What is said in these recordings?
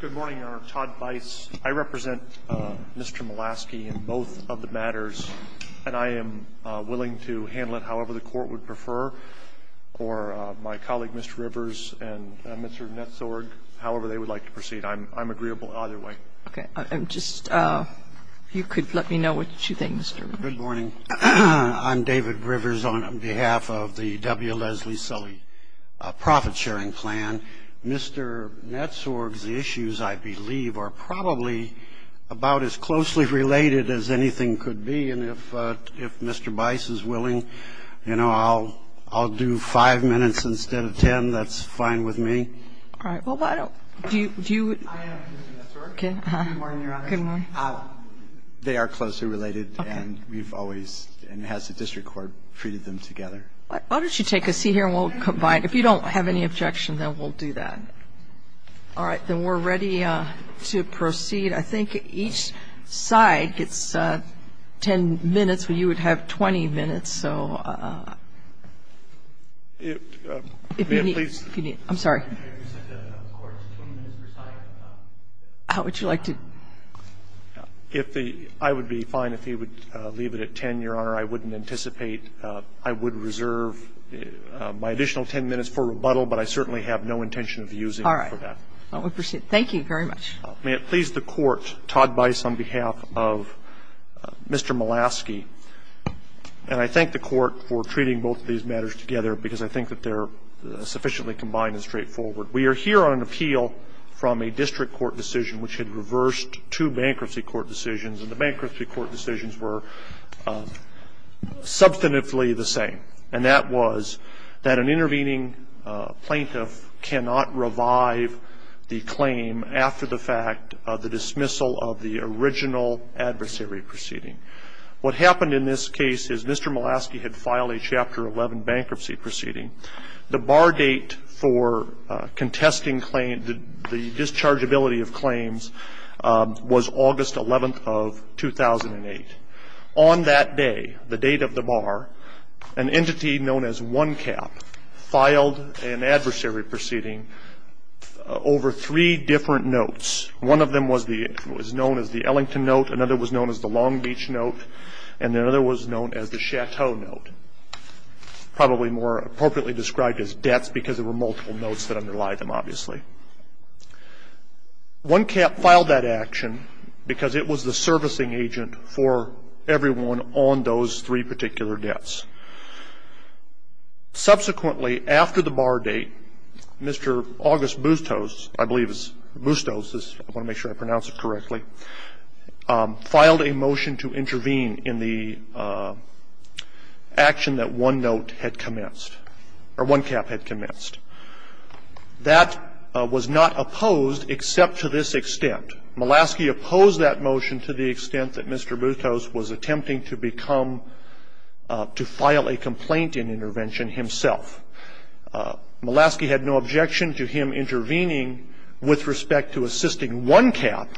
Good morning, Your Honor. Todd Bice. I represent Mr. Molasky in both of the matters, and I am willing to handle it however the Court would prefer, or my colleague, Mr. Rivers, and Mr. Netzorg, however they would like to proceed. I'm agreeable either way. Okay. Just, if you could let me know what you think, Mr. Rivers. Good morning. I'm David Rivers on behalf of the W. Leslie Sully profit-sharing plan. Mr. Netzorg's issues, I believe, are probably about as closely related as anything could be, and if Mr. Bice is willing, you know, I'll do five minutes instead of ten. That's fine with me. All right. Well, why don't – do you – I am Mr. Netzorg. Good morning, Your Honor. Good morning. They are closely related, and we've always – and has the district court treated them together? Why don't you take a seat here and we'll combine. If you don't have any objection, then we'll do that. All right. Then we're ready to proceed. I think each side gets ten minutes, but you would have 20 minutes, so if you need – I'm sorry. How would you like to – If the – I would be fine if he would leave it at ten, Your Honor. I wouldn't anticipate – I would reserve my additional ten minutes for rebuttal, but I certainly have no intention of using it for that. All right. Thank you very much. May it please the Court, Todd Bice on behalf of Mr. Molaski, and I thank the Court for treating both of these matters together because I think that they're sufficiently combined and straightforward. We are here on appeal from a district court decision which had reversed two bankruptcy court decisions, and the bankruptcy court decisions were substantively the same, and that was that an intervening plaintiff cannot revive the claim after the fact of the dismissal of the original adversary proceeding. What happened in this case is Mr. Molaski had filed a Chapter 11 bankruptcy proceeding. The bar date for contesting claims, the dischargeability of claims, was August 11th of 2008. On that day, the date of the bar, an entity known as One Cap filed an adversary proceeding over three different notes. One of them was known as the Ellington note, another was known as the Long Beach note, and another was known as the Chateau note, probably more appropriately described as debts because there were multiple notes that underlie them, obviously. One Cap filed that action because it was the servicing agent for everyone on those three particular debts. Subsequently, after the bar date, Mr. August Bustos, I believe it's Bustos, I want to make sure I pronounce it correctly, filed a motion to intervene in the action that One Note had commenced, or One Cap had commenced. That was not opposed except to this extent. Molaski opposed that motion to the extent that Mr. Bustos was attempting to become, to file a complaint in intervention himself. Molaski had no objection to him intervening with respect to assisting One Cap,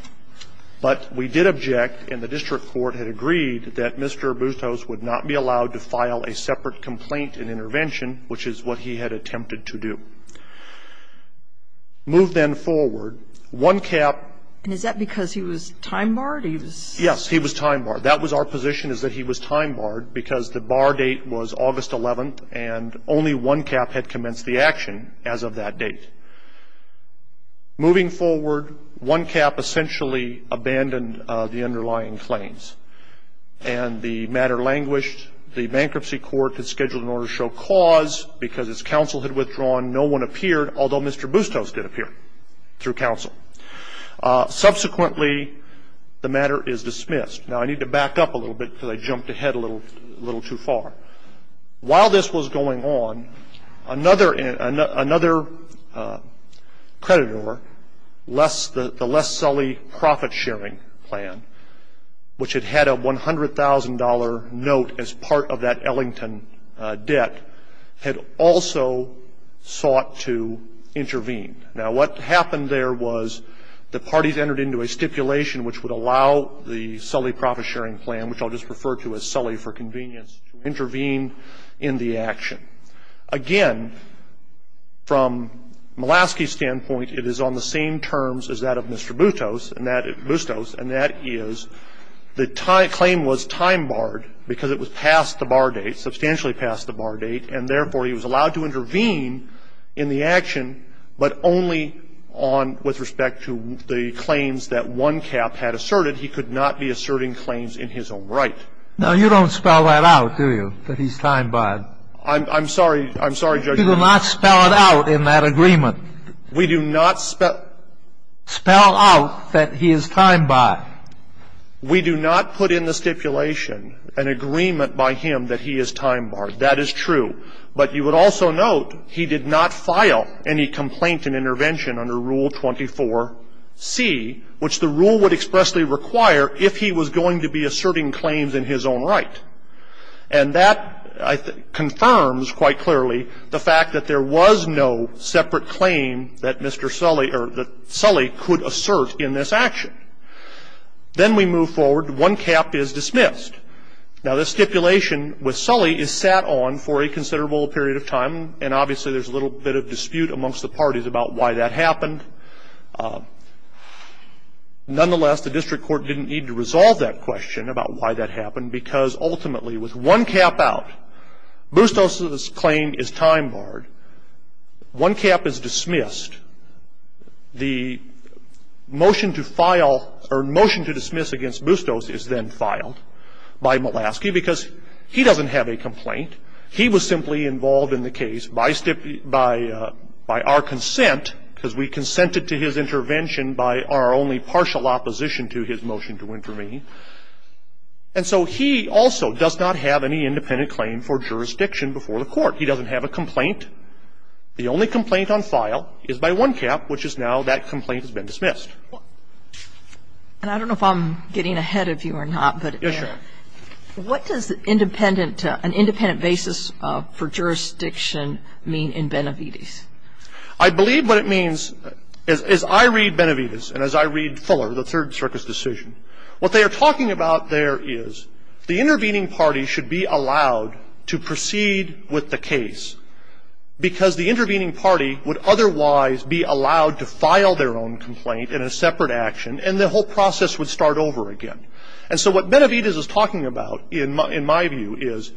but we did object and the district court had agreed that Mr. Bustos would not be allowed to file a separate complaint in intervention, which is what he had attempted to do. Move then forward. One Cap ---- And is that because he was time barred or he was ---- Yes, he was time barred. That was our position is that he was time barred because the bar date was August 11th and only One Cap had commenced the action as of that date. Moving forward, One Cap essentially abandoned the underlying claims and the matter languished. The bankruptcy court had scheduled an order to show cause because its counsel had withdrawn no one appeared, although Mr. Bustos did appear through counsel. Subsequently, the matter is dismissed. Now, I need to back up a little bit because I jumped ahead a little too far. While this was going on, another creditor, the Less Sully Profit Sharing Plan, which had had a $100,000 note as part of that Ellington debt, had also sought to intervene. Now, what happened there was the parties entered into a stipulation which would allow the Sully Profit Sharing Plan, which I'll just refer to as Sully for convenience, to intervene in the action. Again, from Mulaski's standpoint, it is on the same terms as that of Mr. Bustos, and that is the claim was time barred because it was past the bar date, substantially past the bar date, and therefore he was allowed to intervene in the action, but only on with respect to the claims that One Cap had asserted. He could not be asserting claims in his own right. Now, you don't spell that out, do you, that he's time barred? I'm sorry. I'm sorry, Judge. You do not spell it out in that agreement. We do not spell out that he is time barred. We do not put in the stipulation an agreement by him that he is time barred. That is true. But you would also note he did not file any complaint in intervention under Rule 24C, which the rule would expressly require if he was going to be asserting claims in his own right. And that, I think, confirms quite clearly the fact that there was no separate claim that Mr. Sully or that Sully could assert in this action. Then we move forward. One Cap is dismissed. Now, the stipulation with Sully is sat on for a considerable period of time, and obviously there's a little bit of dispute amongst the parties about why that happened. Nonetheless, the district court didn't need to resolve that question about why that happened. Ultimately, with One Cap out, Bustos's claim is time barred. One Cap is dismissed. The motion to file or motion to dismiss against Bustos is then filed by Malasky because he doesn't have a complaint. He was simply involved in the case by our consent because we consented to his intervention by our only partial opposition to his motion to intervene. And so he also does not have any independent claim for jurisdiction before the court. He doesn't have a complaint. The only complaint on file is by One Cap, which is now that complaint has been dismissed. And I don't know if I'm getting ahead of you or not, but what does an independent basis for jurisdiction mean in Benavides? I believe what it means, as I read Benavides and as I read Fuller, the Third Circus decision, what they are talking about there is the intervening party should be allowed to proceed with the case because the intervening party would otherwise be allowed to file their own complaint in a separate action and the whole process would start over again. And so what Benavides is talking about in my view is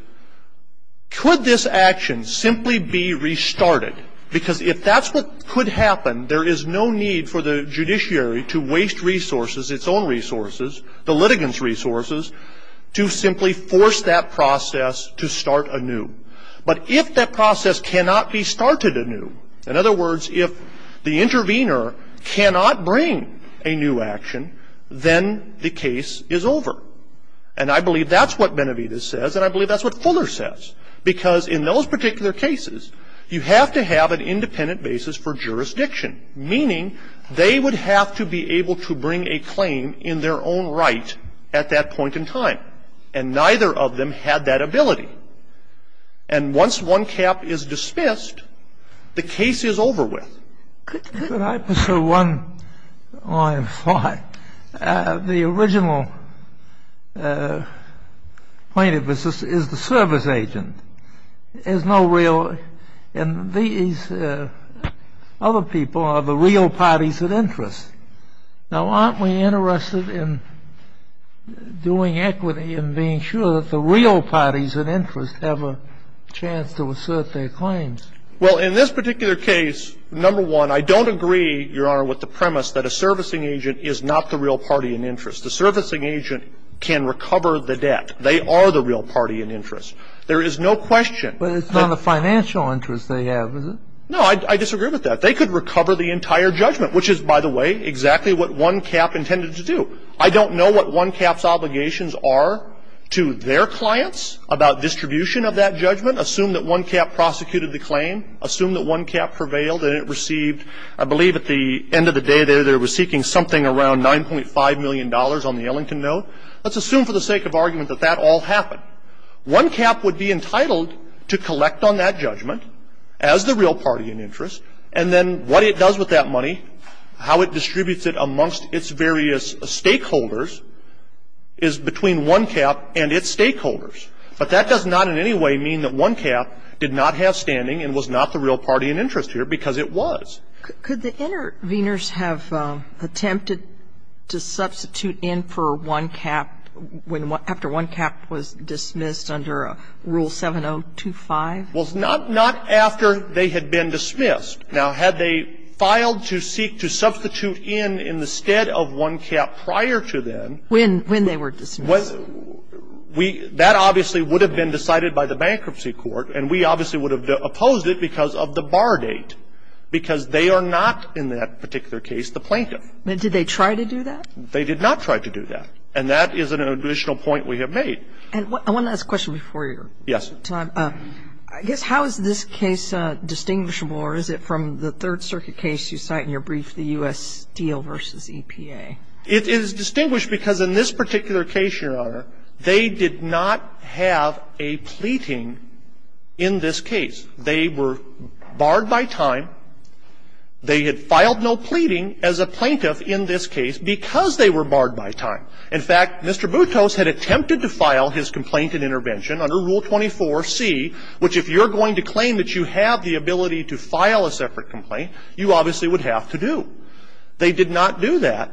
could this action simply be restarted because if that's what could happen, there is no need for the judiciary to waste resources, its own resources, the litigants' resources, to simply force that process to start anew. But if that process cannot be started anew, in other words, if the intervener cannot bring a new action, then the case is over. And I believe that's what Benavides says and I believe that's what Fuller says because in those particular cases, you have to have an independent basis for jurisdiction, meaning they would have to be able to bring a claim in their own right at that point in time, and neither of them had that ability. And once one cap is dismissed, the case is over with. The original plaintiff is the service agent. There's no real – and these other people are the real parties of interest. Now, aren't we interested in doing equity and being sure that the real parties of interest have a chance to assert their claims? Well, in this particular case, number one, I don't agree, Your Honor, with the premise that a servicing agent is not the real party in interest. The servicing agent can recover the debt. They are the real party in interest. There is no question. But it's not the financial interest they have, is it? No, I disagree with that. They could recover the entire judgment, which is, by the way, exactly what one cap intended to do. I don't know what one cap's obligations are to their clients about distribution of that judgment. Assume that one cap prosecuted the claim. Assume that one cap prevailed and it received, I believe at the end of the day there, they were seeking something around $9.5 million on the Ellington note. Let's assume for the sake of argument that that all happened. One cap would be entitled to collect on that judgment as the real party in interest, and then what it does with that money, how it distributes it amongst its various stakeholders, is between one cap and its stakeholders. But that does not in any way mean that one cap did not have standing and was not the real party in interest here, because it was. Could the interveners have attempted to substitute in for one cap after one cap was dismissed under Rule 7025? Well, not after they had been dismissed. Now, had they filed to seek to substitute in in the stead of one cap prior to then When they were dismissed. That obviously would have been decided by the bankruptcy court, and we obviously would have opposed it because of the bar date, because they are not in that particular case the plaintiff. But did they try to do that? They did not try to do that. And that is an additional point we have made. And I want to ask a question before your time. Yes. I guess how is this case distinguishable, or is it from the Third Circuit case you cite in your brief, the U.S. Steel v. EPA? It is distinguished because in this particular case, Your Honor, they did not have a pleading in this case. They were barred by time. They had filed no pleading as a plaintiff in this case because they were barred by time. In fact, Mr. Boutros had attempted to file his complaint and intervention under Rule 24C, which if you're going to claim that you have the ability to file a separate complaint, you obviously would have to do. They did not do that.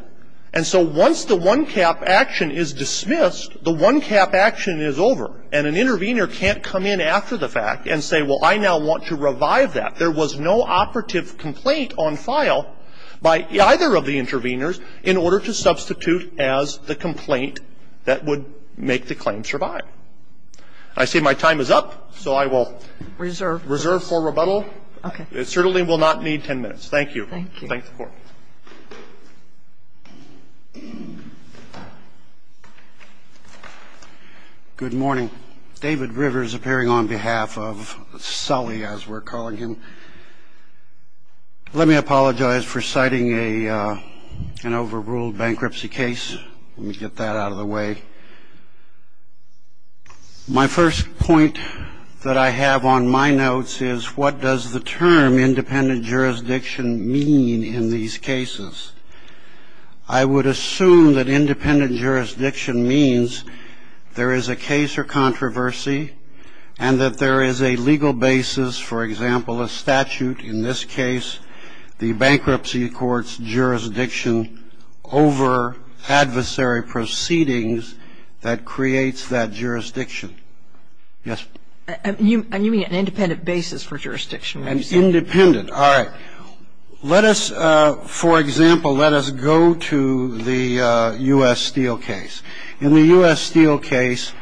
And so once the one-cap action is dismissed, the one-cap action is over, and an intervener can't come in after the fact and say, well, I now want to revive that. There was no operative complaint on file by either of the interveners in order to substitute as the complaint that would make the claim survive. I see my time is up, so I will reserve for rebuttal. Okay. It certainly will not need 10 minutes. Thank you. Thanks, Court. Good morning. David Rivers appearing on behalf of Sully, as we're calling him. Let me apologize for citing an overruled bankruptcy case. Let me get that out of the way. My first point that I have on my notes is what does the term independent jurisdiction mean in these cases? I would assume that independent jurisdiction means there is a case or controversy and that there is a legal basis, for example, a statute in this case, the bankruptcy court's jurisdiction over adversary proceedings that creates that jurisdiction. Yes? Are you meaning an independent basis for jurisdiction? An independent. All right. Let us, for example, let us go to the U.S. Steel case. In the U.S. Steel case,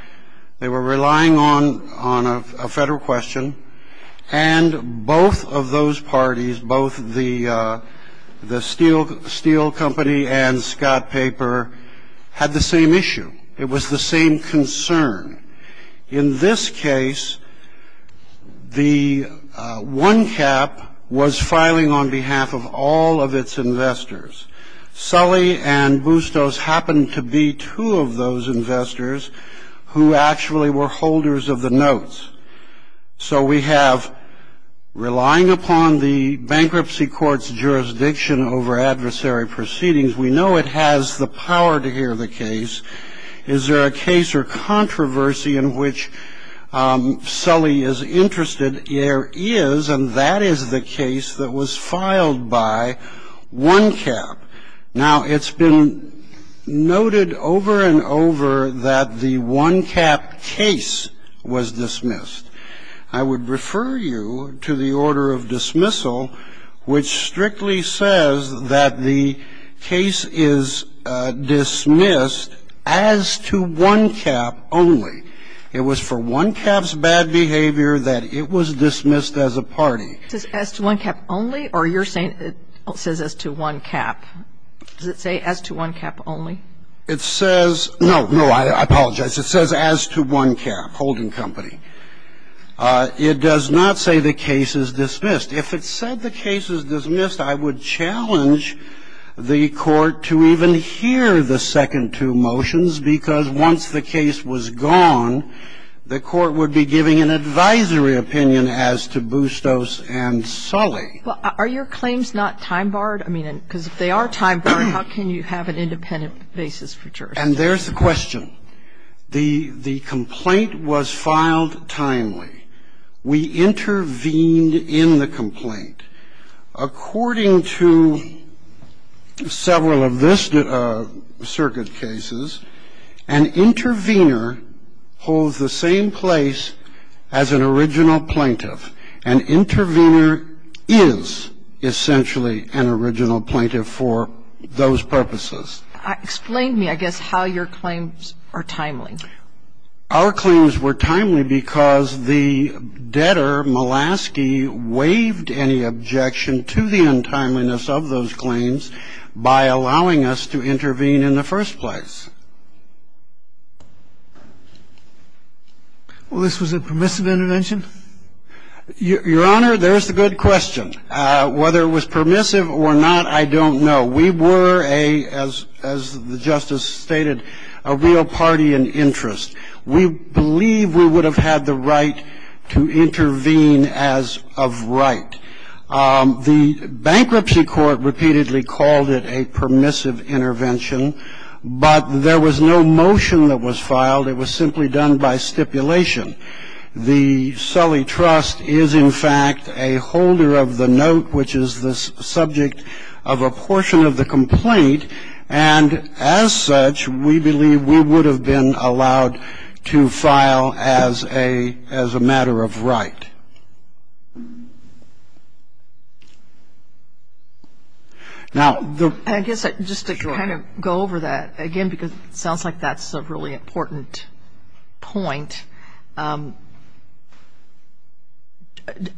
they were relying on a Federal question, and both of those parties, both the Steel Company and Scott Paper, had the same issue. It was the same concern. In this case, the one cap was filing on behalf of all of its investors. Sully and Bustos happened to be two of those investors who actually were holders of the notes. So we have relying upon the bankruptcy court's jurisdiction over adversary proceedings. We know it has the power to hear the case. Is there a case or controversy in which Sully is interested? There is, and that is the case that was filed by one cap. Now, it's been noted over and over that the one cap case was dismissed. I would refer you to the order of dismissal, which strictly says that the case is dismissed as to one cap only. It was for one cap's bad behavior that it was dismissed as a party. As to one cap only, or you're saying it says as to one cap? Does it say as to one cap only? It says no, no, I apologize. It says as to one cap, holding company. It does not say the case is dismissed. If it said the case is dismissed, I would challenge the Court to even hear the second two motions, because once the case was gone, the Court would be giving an advisory opinion as to Bustos and Sully. Are your claims not time-barred? I mean, because if they are time-barred, how can you have an independent basis for jurisdiction? And there's the question. The complaint was filed timely. We intervened in the complaint. According to several of this circuit cases, an intervener holds the same place as an original plaintiff. An intervener is essentially an original plaintiff for those purposes. Explain to me, I guess, how your claims are timely. Our claims were timely because the debtor, Mulaski, waived any objection to the untimeliness of those claims by allowing us to intervene in the first place. Well, this was a permissive intervention? Your Honor, there's the good question. Whether it was permissive or not, I don't know. We were a, as the Justice stated, a real party in interest. We believe we would have had the right to intervene as of right. The Bankruptcy Court repeatedly called it a permissive intervention, but there was no motion that was filed. It was simply done by stipulation. The Sully Trust is, in fact, a holder of the note, which is the subject of a portion of the complaint. And as such, we believe we would have been allowed to file as a matter of right. Now, the I guess, just to kind of go over that, again, because it sounds like that's a really important point.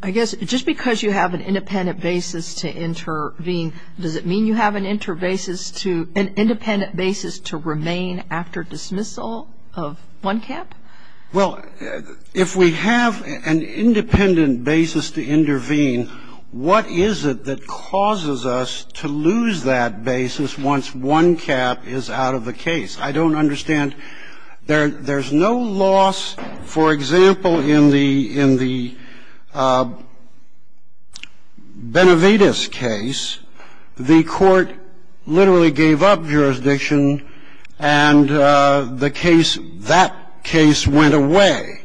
I guess, just because you have an independent basis to intervene, does it mean you have an interbasis to, an independent basis to remain after dismissal of one cap? Well, if we have an independent basis to intervene, what is it that causes us to lose that basis once one cap is out of the case? I don't understand. There's no loss, for example, in the Benavides case. The court literally gave up jurisdiction, and the case, that case went away.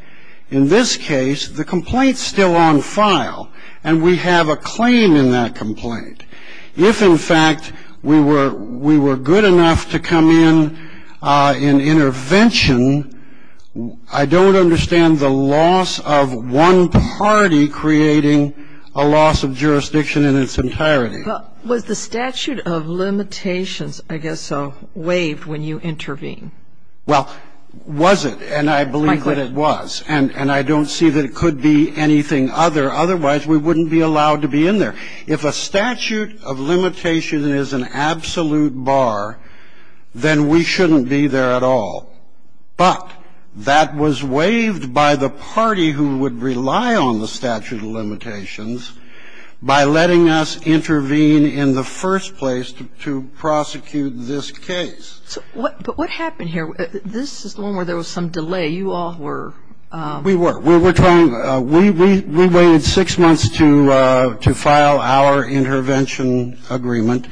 In this case, the complaint's still on file, and we have a claim in that complaint. If, in fact, we were good enough to come in in intervention, I don't understand the loss of one party creating a loss of jurisdiction in its entirety. Was the statute of limitations, I guess so, waived when you intervene? Well, was it, and I believe that it was. And I don't see that it could be anything other. Otherwise, we wouldn't be allowed to be in there. If a statute of limitation is an absolute bar, then we shouldn't be there at all. But that was waived by the party who would rely on the statute of limitations by letting us intervene in the first place to prosecute this case. But what happened here? This is the one where there was some delay. You all were ---- We were. We were trying. We waited six months to file our intervention agreement.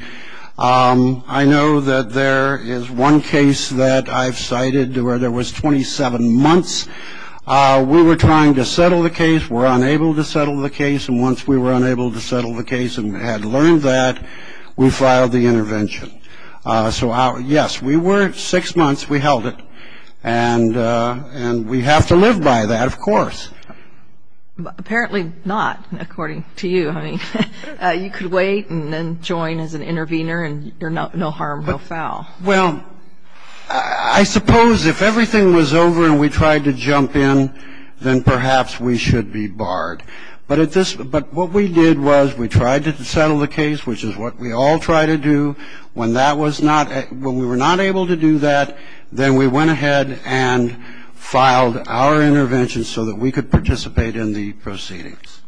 I know that there is one case that I've cited where there was 27 months. We were trying to settle the case. We were unable to settle the case. And once we were unable to settle the case and had learned that, we filed the intervention. So, yes, we were six months. We held it. And we have to live by that, of course. Apparently not, according to you. I mean, you could wait and then join as an intervener and you're no harm, no foul. Well, I suppose if everything was over and we tried to jump in, then perhaps we should be barred. But what we did was we tried to settle the case, which is what we all try to do. When that was not ---- when we were not able to do that, then we went ahead and filed our intervention so that we could participate in the proceedings.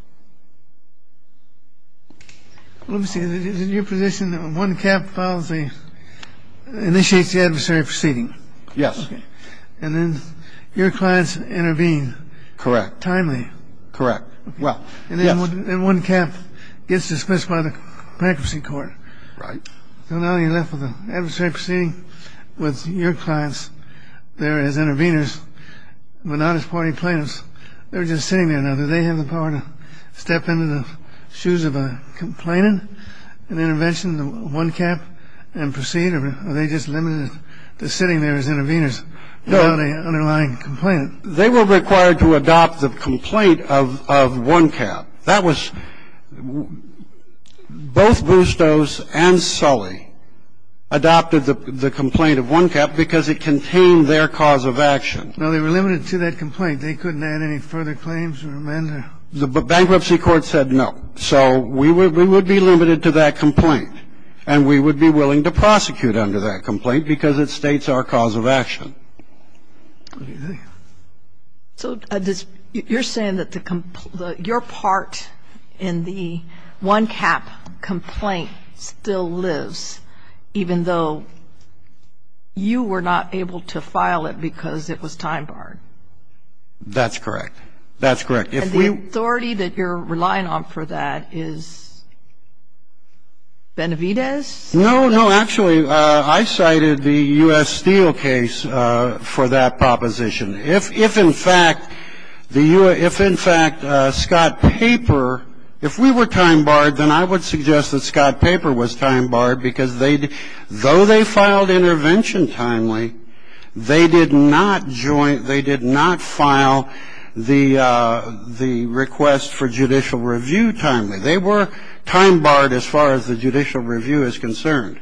Let me see. Is it your position that when one cap initiates the adversary proceeding? Yes. And then your clients intervene? Correct. Timely. Correct. Well, yes. And then one cap gets dismissed by the bankruptcy court. Right. So now you're left with an adversary proceeding with your clients there as interveners but not as party plaintiffs. They're just sitting there now. Do they have the power to step into the shoes of a complainant, an intervention, one cap, and proceed? Or are they just limited to sitting there as interveners without an underlying complainant? They were required to adopt the complaint of one cap. That was ---- both Bustos and Sully adopted the complaint of one cap because it contained their cause of action. Now, they were limited to that complaint. They couldn't add any further claims or amend it? The bankruptcy court said no. So we would be limited to that complaint. And we would be willing to prosecute under that complaint because it states our cause of action. So you're saying that your part in the one cap complaint still lives even though you were not able to file it because it was time barred? That's correct. That's correct. If we ---- And the authority that you're relying on for that is Benavidez? No. No, actually, I cited the U.S. Steele case for that proposition. If, in fact, the U.S. ---- if, in fact, Scott Paper ---- if we were time barred, then I would suggest that Scott Paper was time barred because they ---- though they filed intervention timely, they did not join ---- they did not file the request for judicial review timely. They were time barred as far as the judicial review is concerned.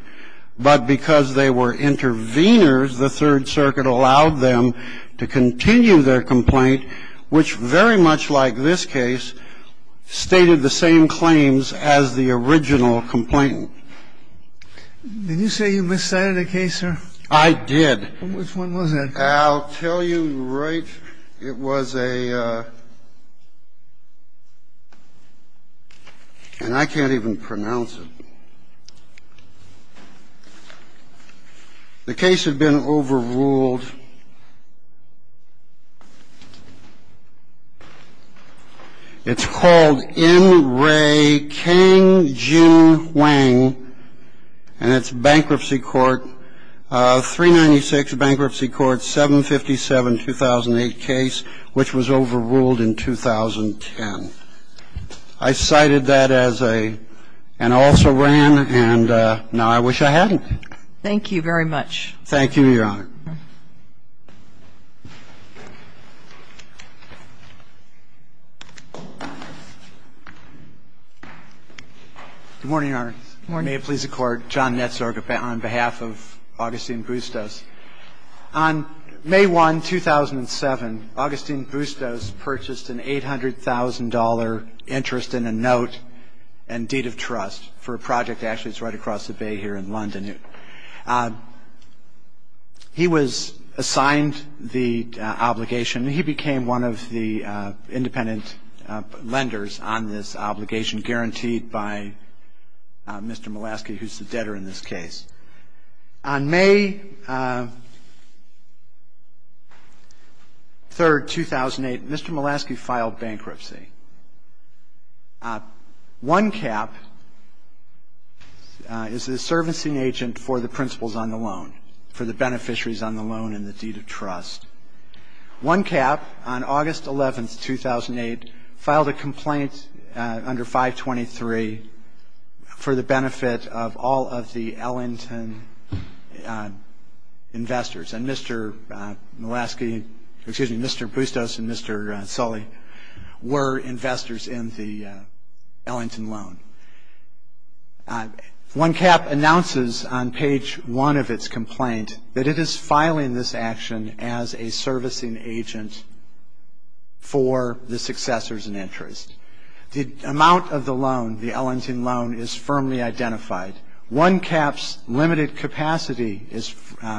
But because they were interveners, the Third Circuit allowed them to continue their complaint, which very much like this case, stated the same claims as the original complainant. Did you say you miscited a case, sir? I did. Which one was that? I'll tell you right. It was a ---- and I can't even pronounce it. The case had been overruled. It's called N. Ray Kang Jin Wang, and it's bankruptcy court, 396 Bankruptcy Court, and it's a 757-2008 case, which was overruled in 2010. I cited that as a ---- and also ran, and now I wish I hadn't. Thank you very much. Thank you, Your Honor. Good morning, Your Honor. Good morning. May it please the Court. John Netzorg on behalf of Augustine Bustos. On May 1, 2007, Augustine Bustos purchased an $800,000 interest in a note and deed of trust for a project that actually is right across the bay here in London. He was assigned the obligation, and he became one of the independent lenders on this obligation and guaranteed by Mr. Mulaski, who's the debtor in this case. On May 3, 2008, Mr. Mulaski filed bankruptcy. One Cap is the servicing agent for the principals on the loan, for the beneficiaries on the loan and the deed of trust. One Cap, on August 11, 2008, filed a complaint under 523 for the benefit of all of the Ellington investors, and Mr. Mulaski, excuse me, Mr. Bustos and Mr. Sully were investors in the Ellington loan. One Cap announces on page one of its complaint that it is filing this action as a servicing agent for the successors in interest. The amount of the loan, the Ellington loan, is firmly identified. One Cap's limited capacity is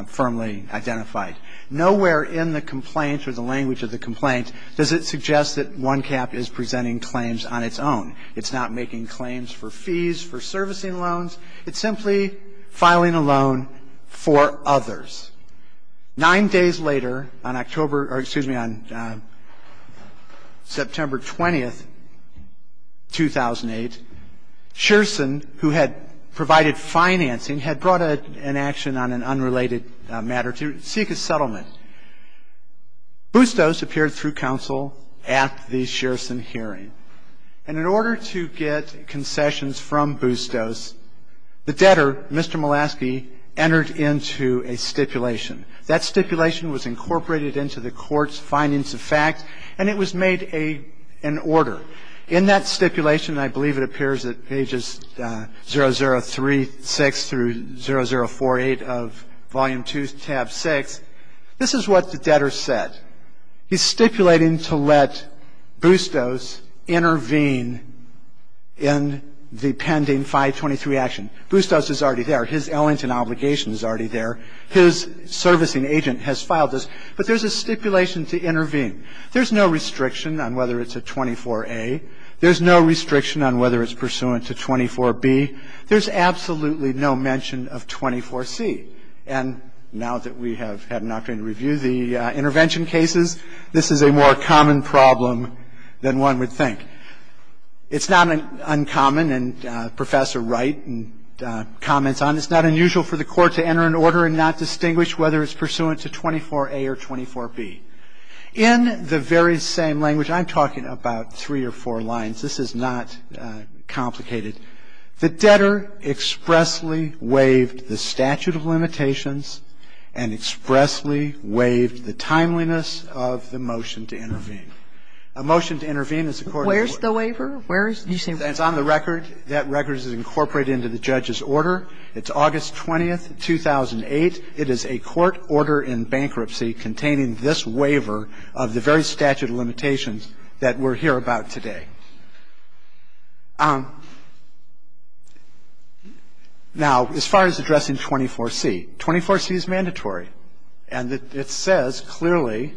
firmly identified. Nowhere in the complaint or the language of the complaint does it suggest that One Cap is presenting claims on its own. It's not making claims for fees, for servicing loans. It's simply filing a loan for others. Nine days later, on September 20, 2008, Shearson, who had provided financing, had brought an action on an unrelated matter to seek a settlement. Bustos appeared through counsel at the Shearson hearing. And in order to get concessions from Bustos, the debtor, Mr. Mulaski, entered into a stipulation. That stipulation was incorporated into the court's findings of fact, and it was made an order. In that stipulation, I believe it appears at pages 0036 through 0048 of Volume 2, Tab 6, this is what the debtor said. He's stipulating to let Bustos intervene in the pending 523 action. Bustos is already there. His Ellington obligation is already there. His servicing agent has filed this. But there's a stipulation to intervene. There's no restriction on whether it's a 24A. There's no restriction on whether it's pursuant to 24B. There's absolutely no mention of 24C. And now that we have had an opportunity to review the intervention cases, this is a more common problem than one would think. It's not uncommon, and Professor Wright comments on it. It's not unusual for the court to enter an order and not distinguish whether it's pursuant to 24A or 24B. In the very same language, I'm talking about three or four lines. This is not complicated. The debtor expressly waived the statute of limitations and expressly waived the timeliness of the motion to intervene. A motion to intervene is a court order. Where's the waiver? Where is it? It's on the record. That record is incorporated into the judge's order. It's August 20th, 2008. It is a court order in bankruptcy containing this waiver of the very statute of limitations that we're here about today. Now, as far as addressing 24C, 24C is mandatory. And it says clearly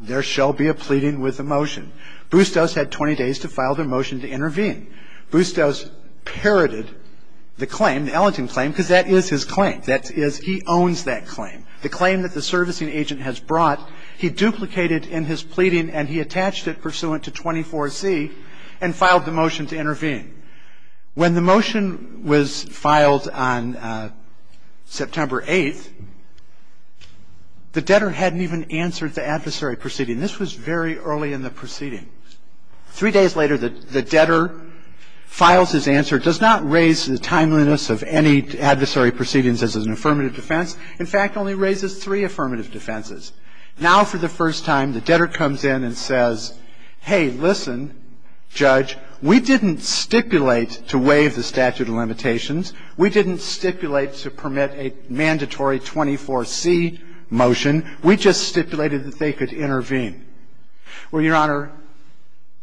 there shall be a pleading with a motion. Bustos had 20 days to file the motion to intervene. Bustos parroted the claim, the Ellington claim, because that is his claim. That is he owns that claim. The claim that the servicing agent has brought, he duplicated in his pleading, and he attached it pursuant to 24C and filed the motion to intervene. When the motion was filed on September 8th, the debtor hadn't even answered the adversary proceeding. This was very early in the proceeding. Three days later, the debtor files his answer. It does not raise the timeliness of any adversary proceedings as an affirmative defense. In fact, it only raises three affirmative defenses. Now, for the first time, the debtor comes in and says, hey, listen, Judge, we didn't stipulate to waive the statute of limitations. We didn't stipulate to permit a mandatory 24C motion. We just stipulated that they could intervene. Well, Your Honor,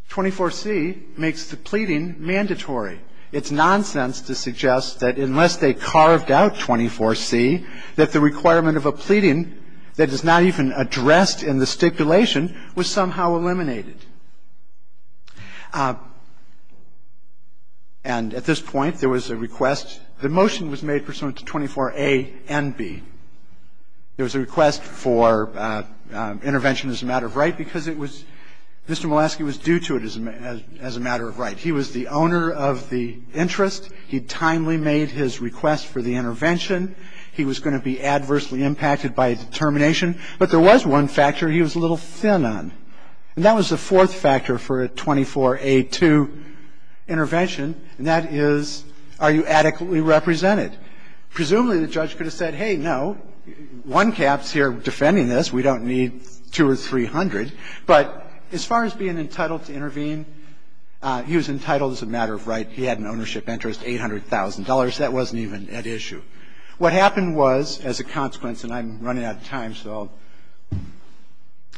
24C makes the pleading mandatory. It's nonsense to suggest that unless they carved out 24C, that the requirement of a pleading that is not even addressed in the stipulation was somehow eliminated. And at this point, there was a request. The motion was made pursuant to 24A and B. There was a request for intervention as a matter of right because it was Mr. Molenski was due to it as a matter of right. He was the owner of the interest. He timely made his request for the intervention. He was going to be adversely impacted by a determination. But there was one factor he was a little thin on. And that was the fourth factor for a 24A2 intervention, and that is, are you adequately represented? Presumably, the judge could have said, hey, no, one cap's here defending this. We don't need 200 or 300. But as far as being entitled to intervene, he was entitled as a matter of right. He had an ownership interest, $800,000. That wasn't even at issue. What happened was, as a consequence, and I'm running out of time, so I'll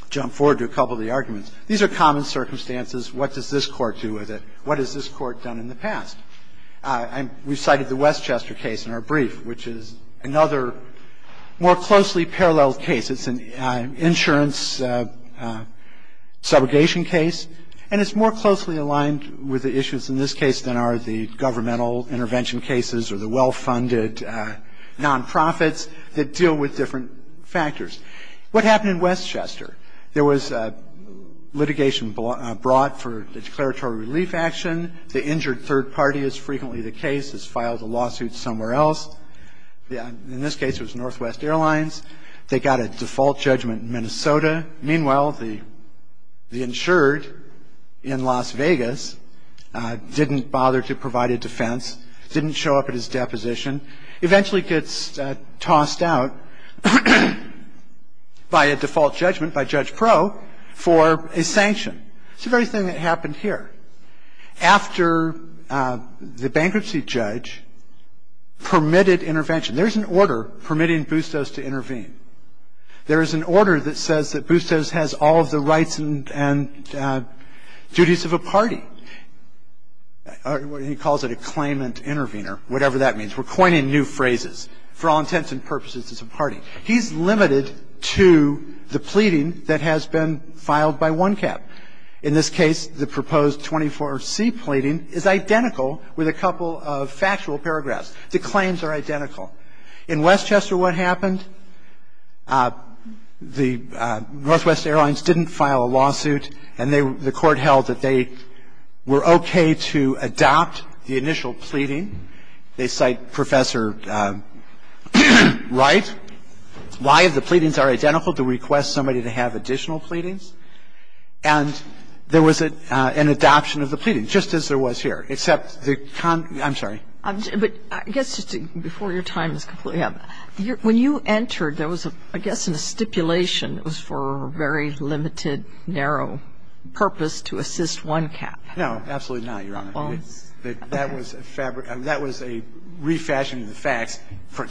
jump forward to a couple of the arguments. These are common circumstances. What does this Court do with it? What has this Court done in the past? We cited the Westchester case in our brief, which is another more closely parallel case. It's an insurance subrogation case, and it's more closely aligned with the issues in this case than are the governmental intervention cases or the well-funded nonprofits that deal with different factors. What happened in Westchester? There was litigation brought for the declaratory relief action. The injured third party is frequently the case, has filed a lawsuit somewhere else. In this case, it was Northwest Airlines. They got a default judgment in Minnesota. Meanwhile, the insured in Las Vegas didn't bother to provide a defense, didn't show up at his deposition, eventually gets tossed out by a default judgment by Judge Pro for a sanction. It's the very thing that happened here. After the bankruptcy judge permitted intervention, there's an order permitting Bustos to intervene. There is an order that says that Bustos has all of the rights and duties of a party. He calls it a claimant intervener, whatever that means. We're coining new phrases. For all intents and purposes, it's a party. He's limited to the pleading that has been filed by one cap. In this case, the proposed 24C pleading is identical with a couple of factual paragraphs. The claims are identical. In Westchester, what happened? The Northwest Airlines didn't file a lawsuit, and the Court held that they were okay to adopt the initial pleading. They cite Professor Wright, why the pleadings are identical, to request somebody to have additional pleadings. And there was an adoption of the pleading, just as there was here, except the con ---- I'm sorry. But I guess just before your time is completely up, when you entered, there was, I guess, a stipulation for a very limited, narrow purpose to assist one cap. No, absolutely not, Your Honor. That was a refashioning of the facts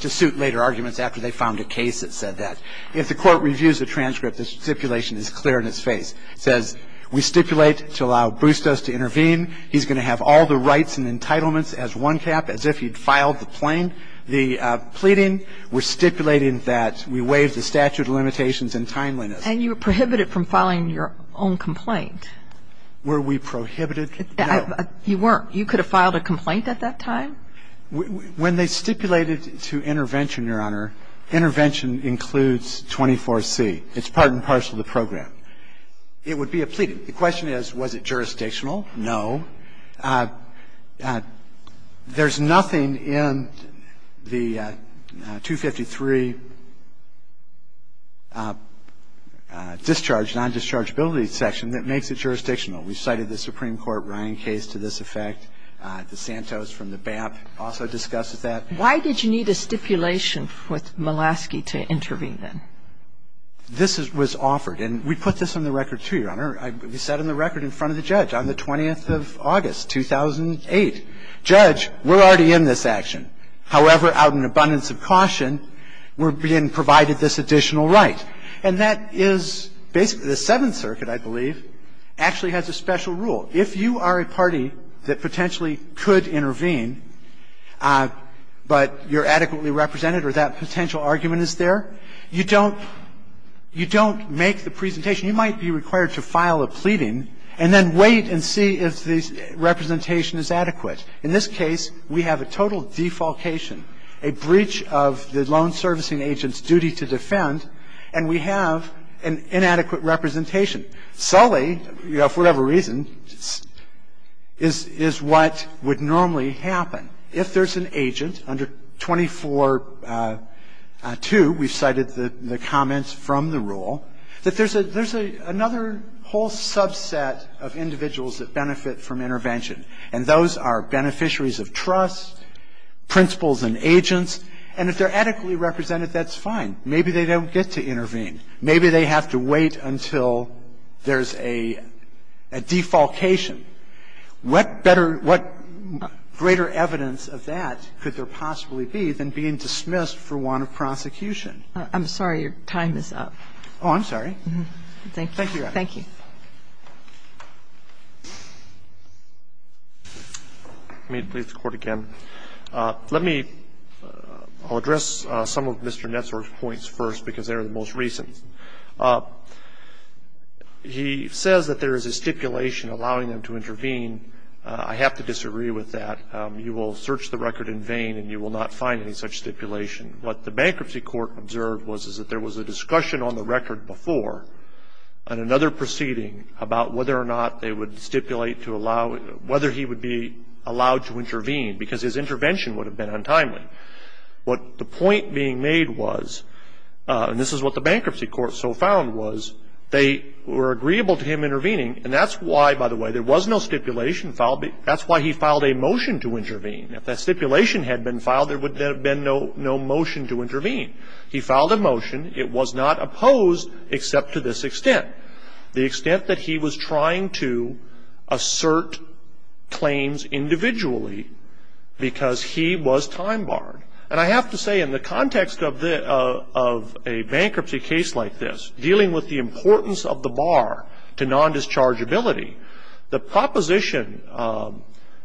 to suit later arguments after they found a case that said that. If the Court reviews the transcript, the stipulation is clear in its face. It says we stipulate to allow Bustos to intervene. He's going to have all the rights and entitlements as one cap, as if he'd filed the plain ---- the pleading. We're stipulating that we waive the statute of limitations and timeliness. And you were prohibited from filing your own complaint. Were we prohibited? No. You weren't. You could have filed a complaint at that time. When they stipulated to intervention, Your Honor, intervention includes 24C. It's part and parcel of the program. It would be a pleading. The question is, was it jurisdictional? No. There's nothing in the 253 discharge, non-dischargeability section that makes it jurisdictional. We cited the Supreme Court Ryan case to this effect. DeSantos from the BAP also discusses that. Why did you need a stipulation with Mulaski to intervene, then? This was offered. And we put this on the record, too, Your Honor. We set it on the record in front of the judge on the 20th of August, 2008. Judge, we're already in this action. However, out of an abundance of caution, we're being provided this additional right. And that is basically the Seventh Circuit, I believe, actually has a special rule. If you are a party that potentially could intervene, but you're adequately represented or that potential argument is there, you don't make the presentation you might be required to file a pleading and then wait and see if the representation is adequate. In this case, we have a total defalcation, a breach of the loan servicing agent's duty to defend, and we have an inadequate representation. Sully, you know, for whatever reason, is what would normally happen. If there's an agent under 24-2, we've cited the comments from the rule, that there's another whole subset of individuals that benefit from intervention, and those are beneficiaries of trust, principals and agents. And if they're adequately represented, that's fine. Maybe they don't get to intervene. Maybe they have to wait until there's a defalcation. What better – what greater evidence of that could there possibly be than being dismissed for want of prosecution? I'm sorry. Your time is up. Oh, I'm sorry. Thank you. Thank you, Your Honor. May it please the Court again. Let me – I'll address some of Mr. Netzler's points first because they are the most recent. He says that there is a stipulation allowing them to intervene. I have to disagree with that. You will search the record in vain and you will not find any such stipulation. What the bankruptcy court observed was is that there was a discussion on the record before on another proceeding about whether or not they would stipulate to allow – whether he would be allowed to intervene because his intervention would have been untimely. What the point being made was – and this is what the bankruptcy court so found was – they were agreeable to him intervening, and that's why, by the way, there was no stipulation filed. That's why he filed a motion to intervene. If that stipulation had been filed, there would have been no motion to intervene. He filed a motion. It was not opposed except to this extent. The extent that he was trying to assert claims individually because he was time barred. And I have to say, in the context of a bankruptcy case like this, dealing with the importance of the bar to nondischargeability, the proposition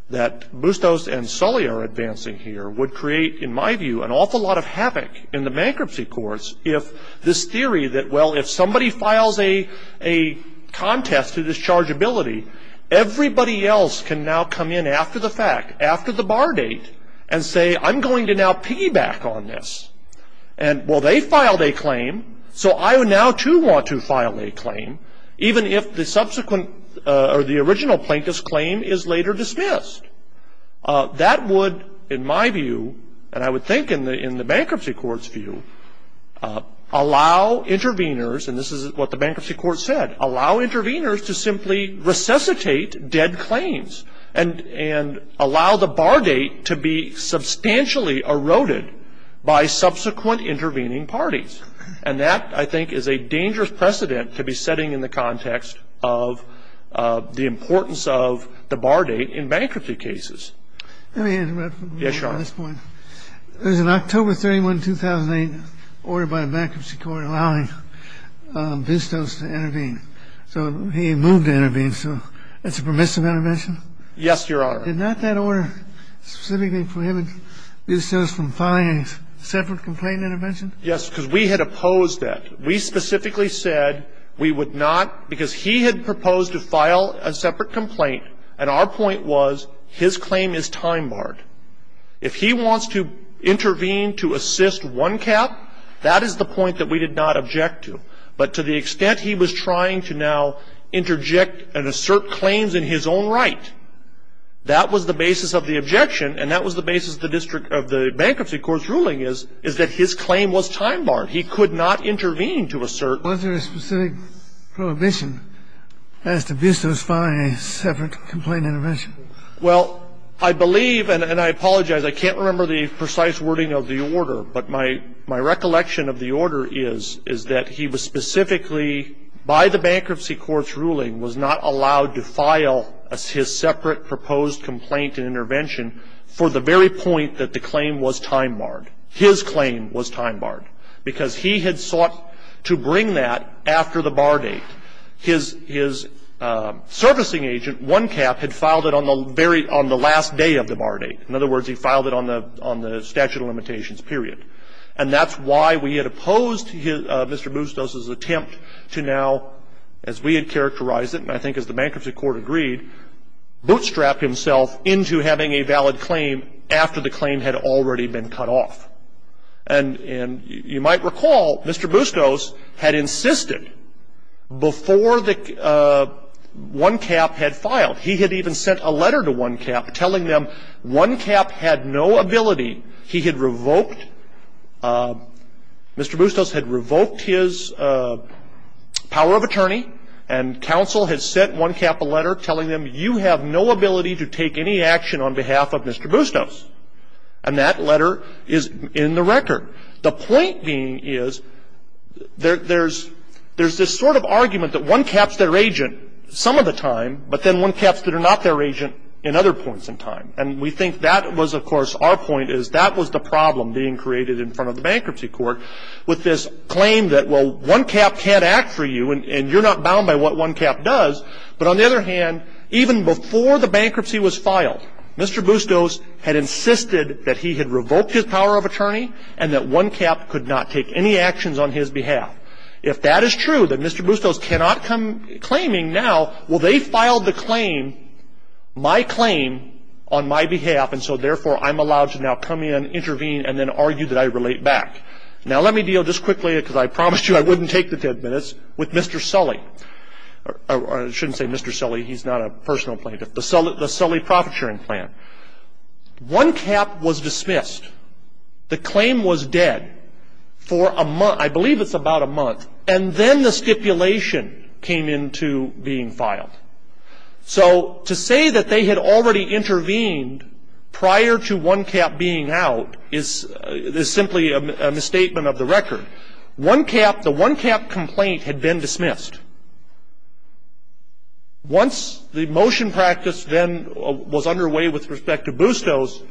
that Bustos and Kelly are advancing here would create, in my view, an awful lot of havoc in the bankruptcy courts if this theory that, well, if somebody files a contest to dischargeability, everybody else can now come in after the fact, after the bar date, and say, I'm going to now piggyback on this. And, well, they filed a claim, so I now, too, want to file a claim, even if the subsequent – or the original plaintiff's claim is later dismissed. That would, in my view, and I would think in the bankruptcy court's view, allow interveners, and this is what the bankruptcy court said, allow interveners to simply resuscitate dead claims and allow the bar date to be substantially eroded by subsequent intervening parties. And that, I think, is a dangerous precedent to be setting in the context of the importance of the bar date in bankruptcy cases. Let me interrupt. Yes, Your Honor. There's an October 31, 2008 order by the bankruptcy court allowing Bustos to intervene. So he moved to intervene. So that's a permissive intervention? Yes, Your Honor. Did not that order specifically prohibit Bustos from filing a separate complaint intervention? Yes, because we had opposed that. We specifically said we would not, because he had proposed to file a separate complaint, and our point was his claim is time-barred. If he wants to intervene to assist one cap, that is the point that we did not object to. But to the extent he was trying to now interject and assert claims in his own right, that was the basis of the objection, and that was the basis of the bankruptcy court's ruling, is that his claim was time-barred. He could not intervene to assert. Was there a specific prohibition as to Bustos filing a separate complaint intervention? Well, I believe, and I apologize, I can't remember the precise wording of the order, but my recollection of the order is that he was specifically, by the bankruptcy court's ruling, was not allowed to file his separate proposed complaint intervention for the very point that the claim was time-barred. His claim was time-barred because he had sought to bring that after the bar date. His servicing agent, one cap, had filed it on the last day of the bar date. In other words, he filed it on the statute of limitations period. And that's why we had opposed Mr. Bustos' attempt to now, as we had characterized it, and I think as the bankruptcy court agreed, bootstrap himself into having a valid claim after the claim had already been cut off. And you might recall, Mr. Bustos had insisted before the one cap had filed, he had even sent a letter to one cap telling them one cap had no ability. He had revoked, Mr. Bustos had revoked his power of attorney, and counsel had sent one cap a letter telling them, you have no ability to take any action on behalf of Mr. Bustos. And that letter is in the record. The point being is there's this sort of argument that one cap's their agent some of the time, but then one cap's not their agent in other points in time. And we think that was, of course, our point is that was the problem being created in front of the bankruptcy court with this claim that, well, one cap can't act for you and you're not bound by what one cap does. But on the other hand, even before the bankruptcy was filed, Mr. Bustos had insisted that he had revoked his power of attorney and that one cap could not take any actions on his behalf. If that is true, that Mr. Bustos cannot come claiming now, well, they filed the claim, my claim, on my behalf, and so therefore I'm allowed to now come in, intervene, and then argue that I relate back. Now, let me deal just quickly, because I promised you I wouldn't take the minutes, with Mr. Sully. I shouldn't say Mr. Sully. He's not a personal plaintiff. The Sully Profit Sharing Plan. One cap was dismissed. The claim was dead for a month. I believe it's about a month. And then the stipulation came into being filed. So to say that they had already intervened prior to one cap being out is simply a misstatement of the record. One cap, the one cap complaint had been dismissed. Once the motion practice then was underway with respect to Bustos,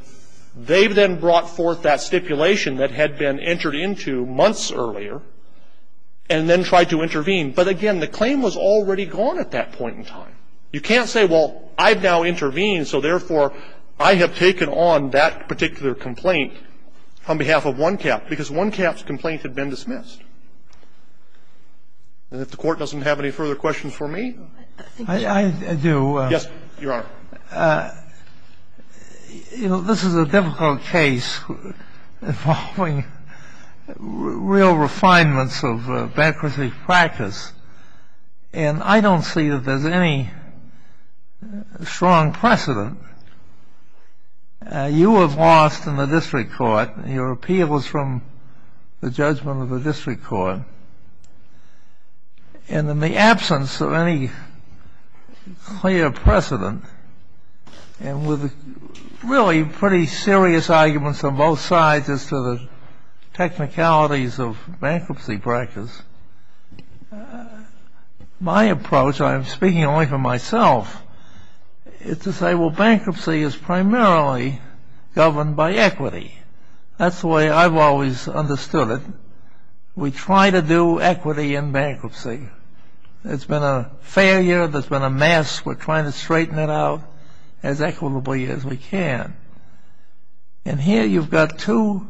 they then brought forth that stipulation that had been entered into months earlier and then tried to intervene. But again, the claim was already gone at that point in time. You can't say, well, I've now intervened, so therefore I have taken on that particular complaint on behalf of one cap, because one cap's complaint had been dismissed. And if the Court doesn't have any further questions for me? I do. Yes, Your Honor. You know, this is a difficult case involving real refinements of bankruptcy practice, and I don't see that there's any strong precedent. You have lost in the district court. Your appeal was from the judgment of the district court. And in the absence of any clear precedent, and with really pretty serious arguments on both sides as to the technicalities of bankruptcy practice, my approach, and I'm bankruptcy is primarily governed by equity. That's the way I've always understood it. We try to do equity in bankruptcy. There's been a failure. There's been a mess. We're trying to straighten it out as equitably as we can. And here you've got two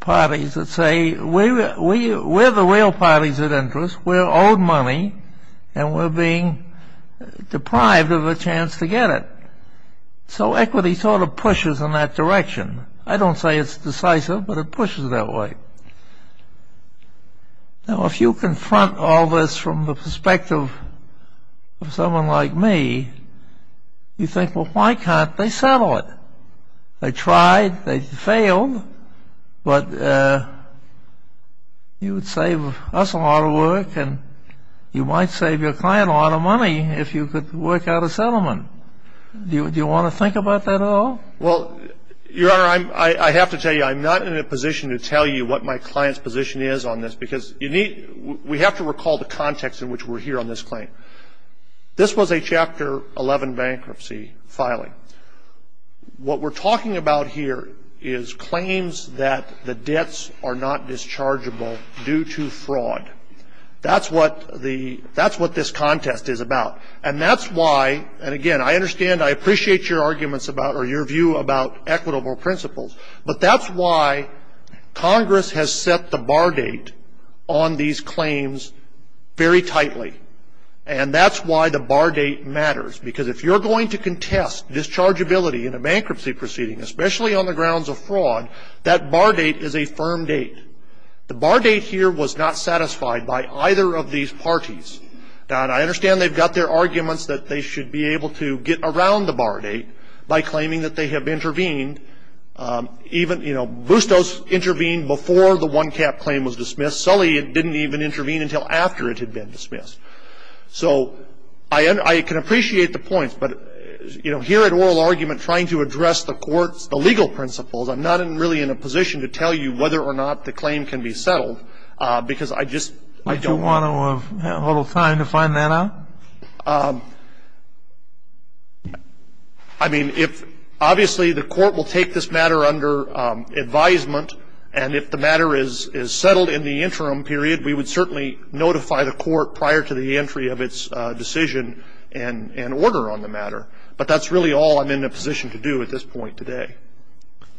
parties that say, we're the real parties of interest. We're owed money, and we're being deprived of a chance to get it. So equity sort of pushes in that direction. I don't say it's decisive, but it pushes it that way. Now, if you confront all this from the perspective of someone like me, you think, well, why can't they settle it? They tried. They failed. But you would save us a lot of work, and you might save your client a lot of money if you could work out a settlement. Do you want to think about that at all? Well, Your Honor, I have to tell you, I'm not in a position to tell you what my client's position is on this, because we have to recall the context in which we're here on this claim. This was a Chapter 11 bankruptcy filing. What we're talking about here is claims that the debts are not dischargeable due to fraud. That's what this contest is about. And that's why, and again, I understand, I appreciate your arguments about, or your view about equitable principles, but that's why Congress has set the bar date on these claims very tightly. And that's why the bar date matters, because if you're going to contest dischargeability in a bankruptcy proceeding, especially on the grounds of fraud, that bar date is a firm date. The bar date here was not satisfied by either of these parties. Now, and I understand they've got their arguments that they should be able to get around the bar date by claiming that they have intervened, even, you know, Bustos intervened before the one-cap claim was dismissed. Sully didn't even intervene until after it had been dismissed. So I can appreciate the points, but, you know, here at oral argument trying to address the court's, the legal principles, I'm not really in a position to tell you whether or not the claim can be settled, because I just, I don't want to. Would you want a little time to find that out? I mean, if, obviously, the court will take this matter under advisement, and if the matter is settled in the interim period, we would certainly notify the court prior to the entry of its decision and order on the matter. But that's really all I'm in a position to do at this point today.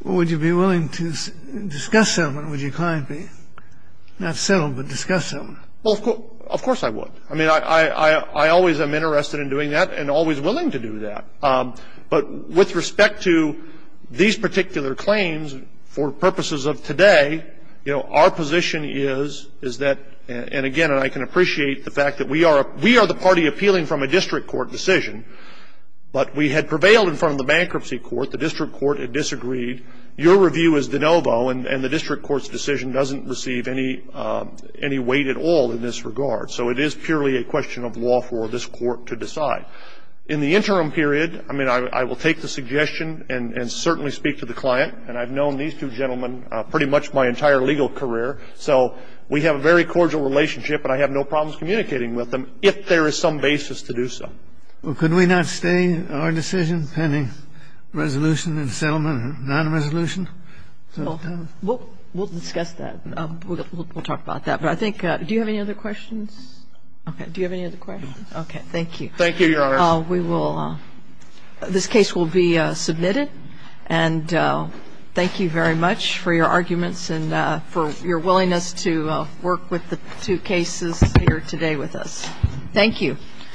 Well, would you be willing to discuss settlement? Would you kindly, not settle, but discuss settlement? Well, of course I would. I mean, I always am interested in doing that and always willing to do that. Our position is, is that, and again, and I can appreciate the fact that we are the party appealing from a district court decision, but we had prevailed in front of the bankruptcy court. The district court had disagreed. Your review is de novo, and the district court's decision doesn't receive any weight at all in this regard. So it is purely a question of law for this court to decide. In the interim period, I mean, I will take the suggestion and certainly speak to the client. And I've known these two gentlemen pretty much my entire legal career. So we have a very cordial relationship and I have no problems communicating with them if there is some basis to do so. Well, could we not stay in our decision pending resolution and settlement, non-resolution? Well, we'll discuss that. We'll talk about that. But I think do you have any other questions? Do you have any other questions? Okay. Thank you. Thank you, Your Honor. This case will be submitted. And thank you very much for your arguments and for your willingness to work with the two cases here today with us. Thank you.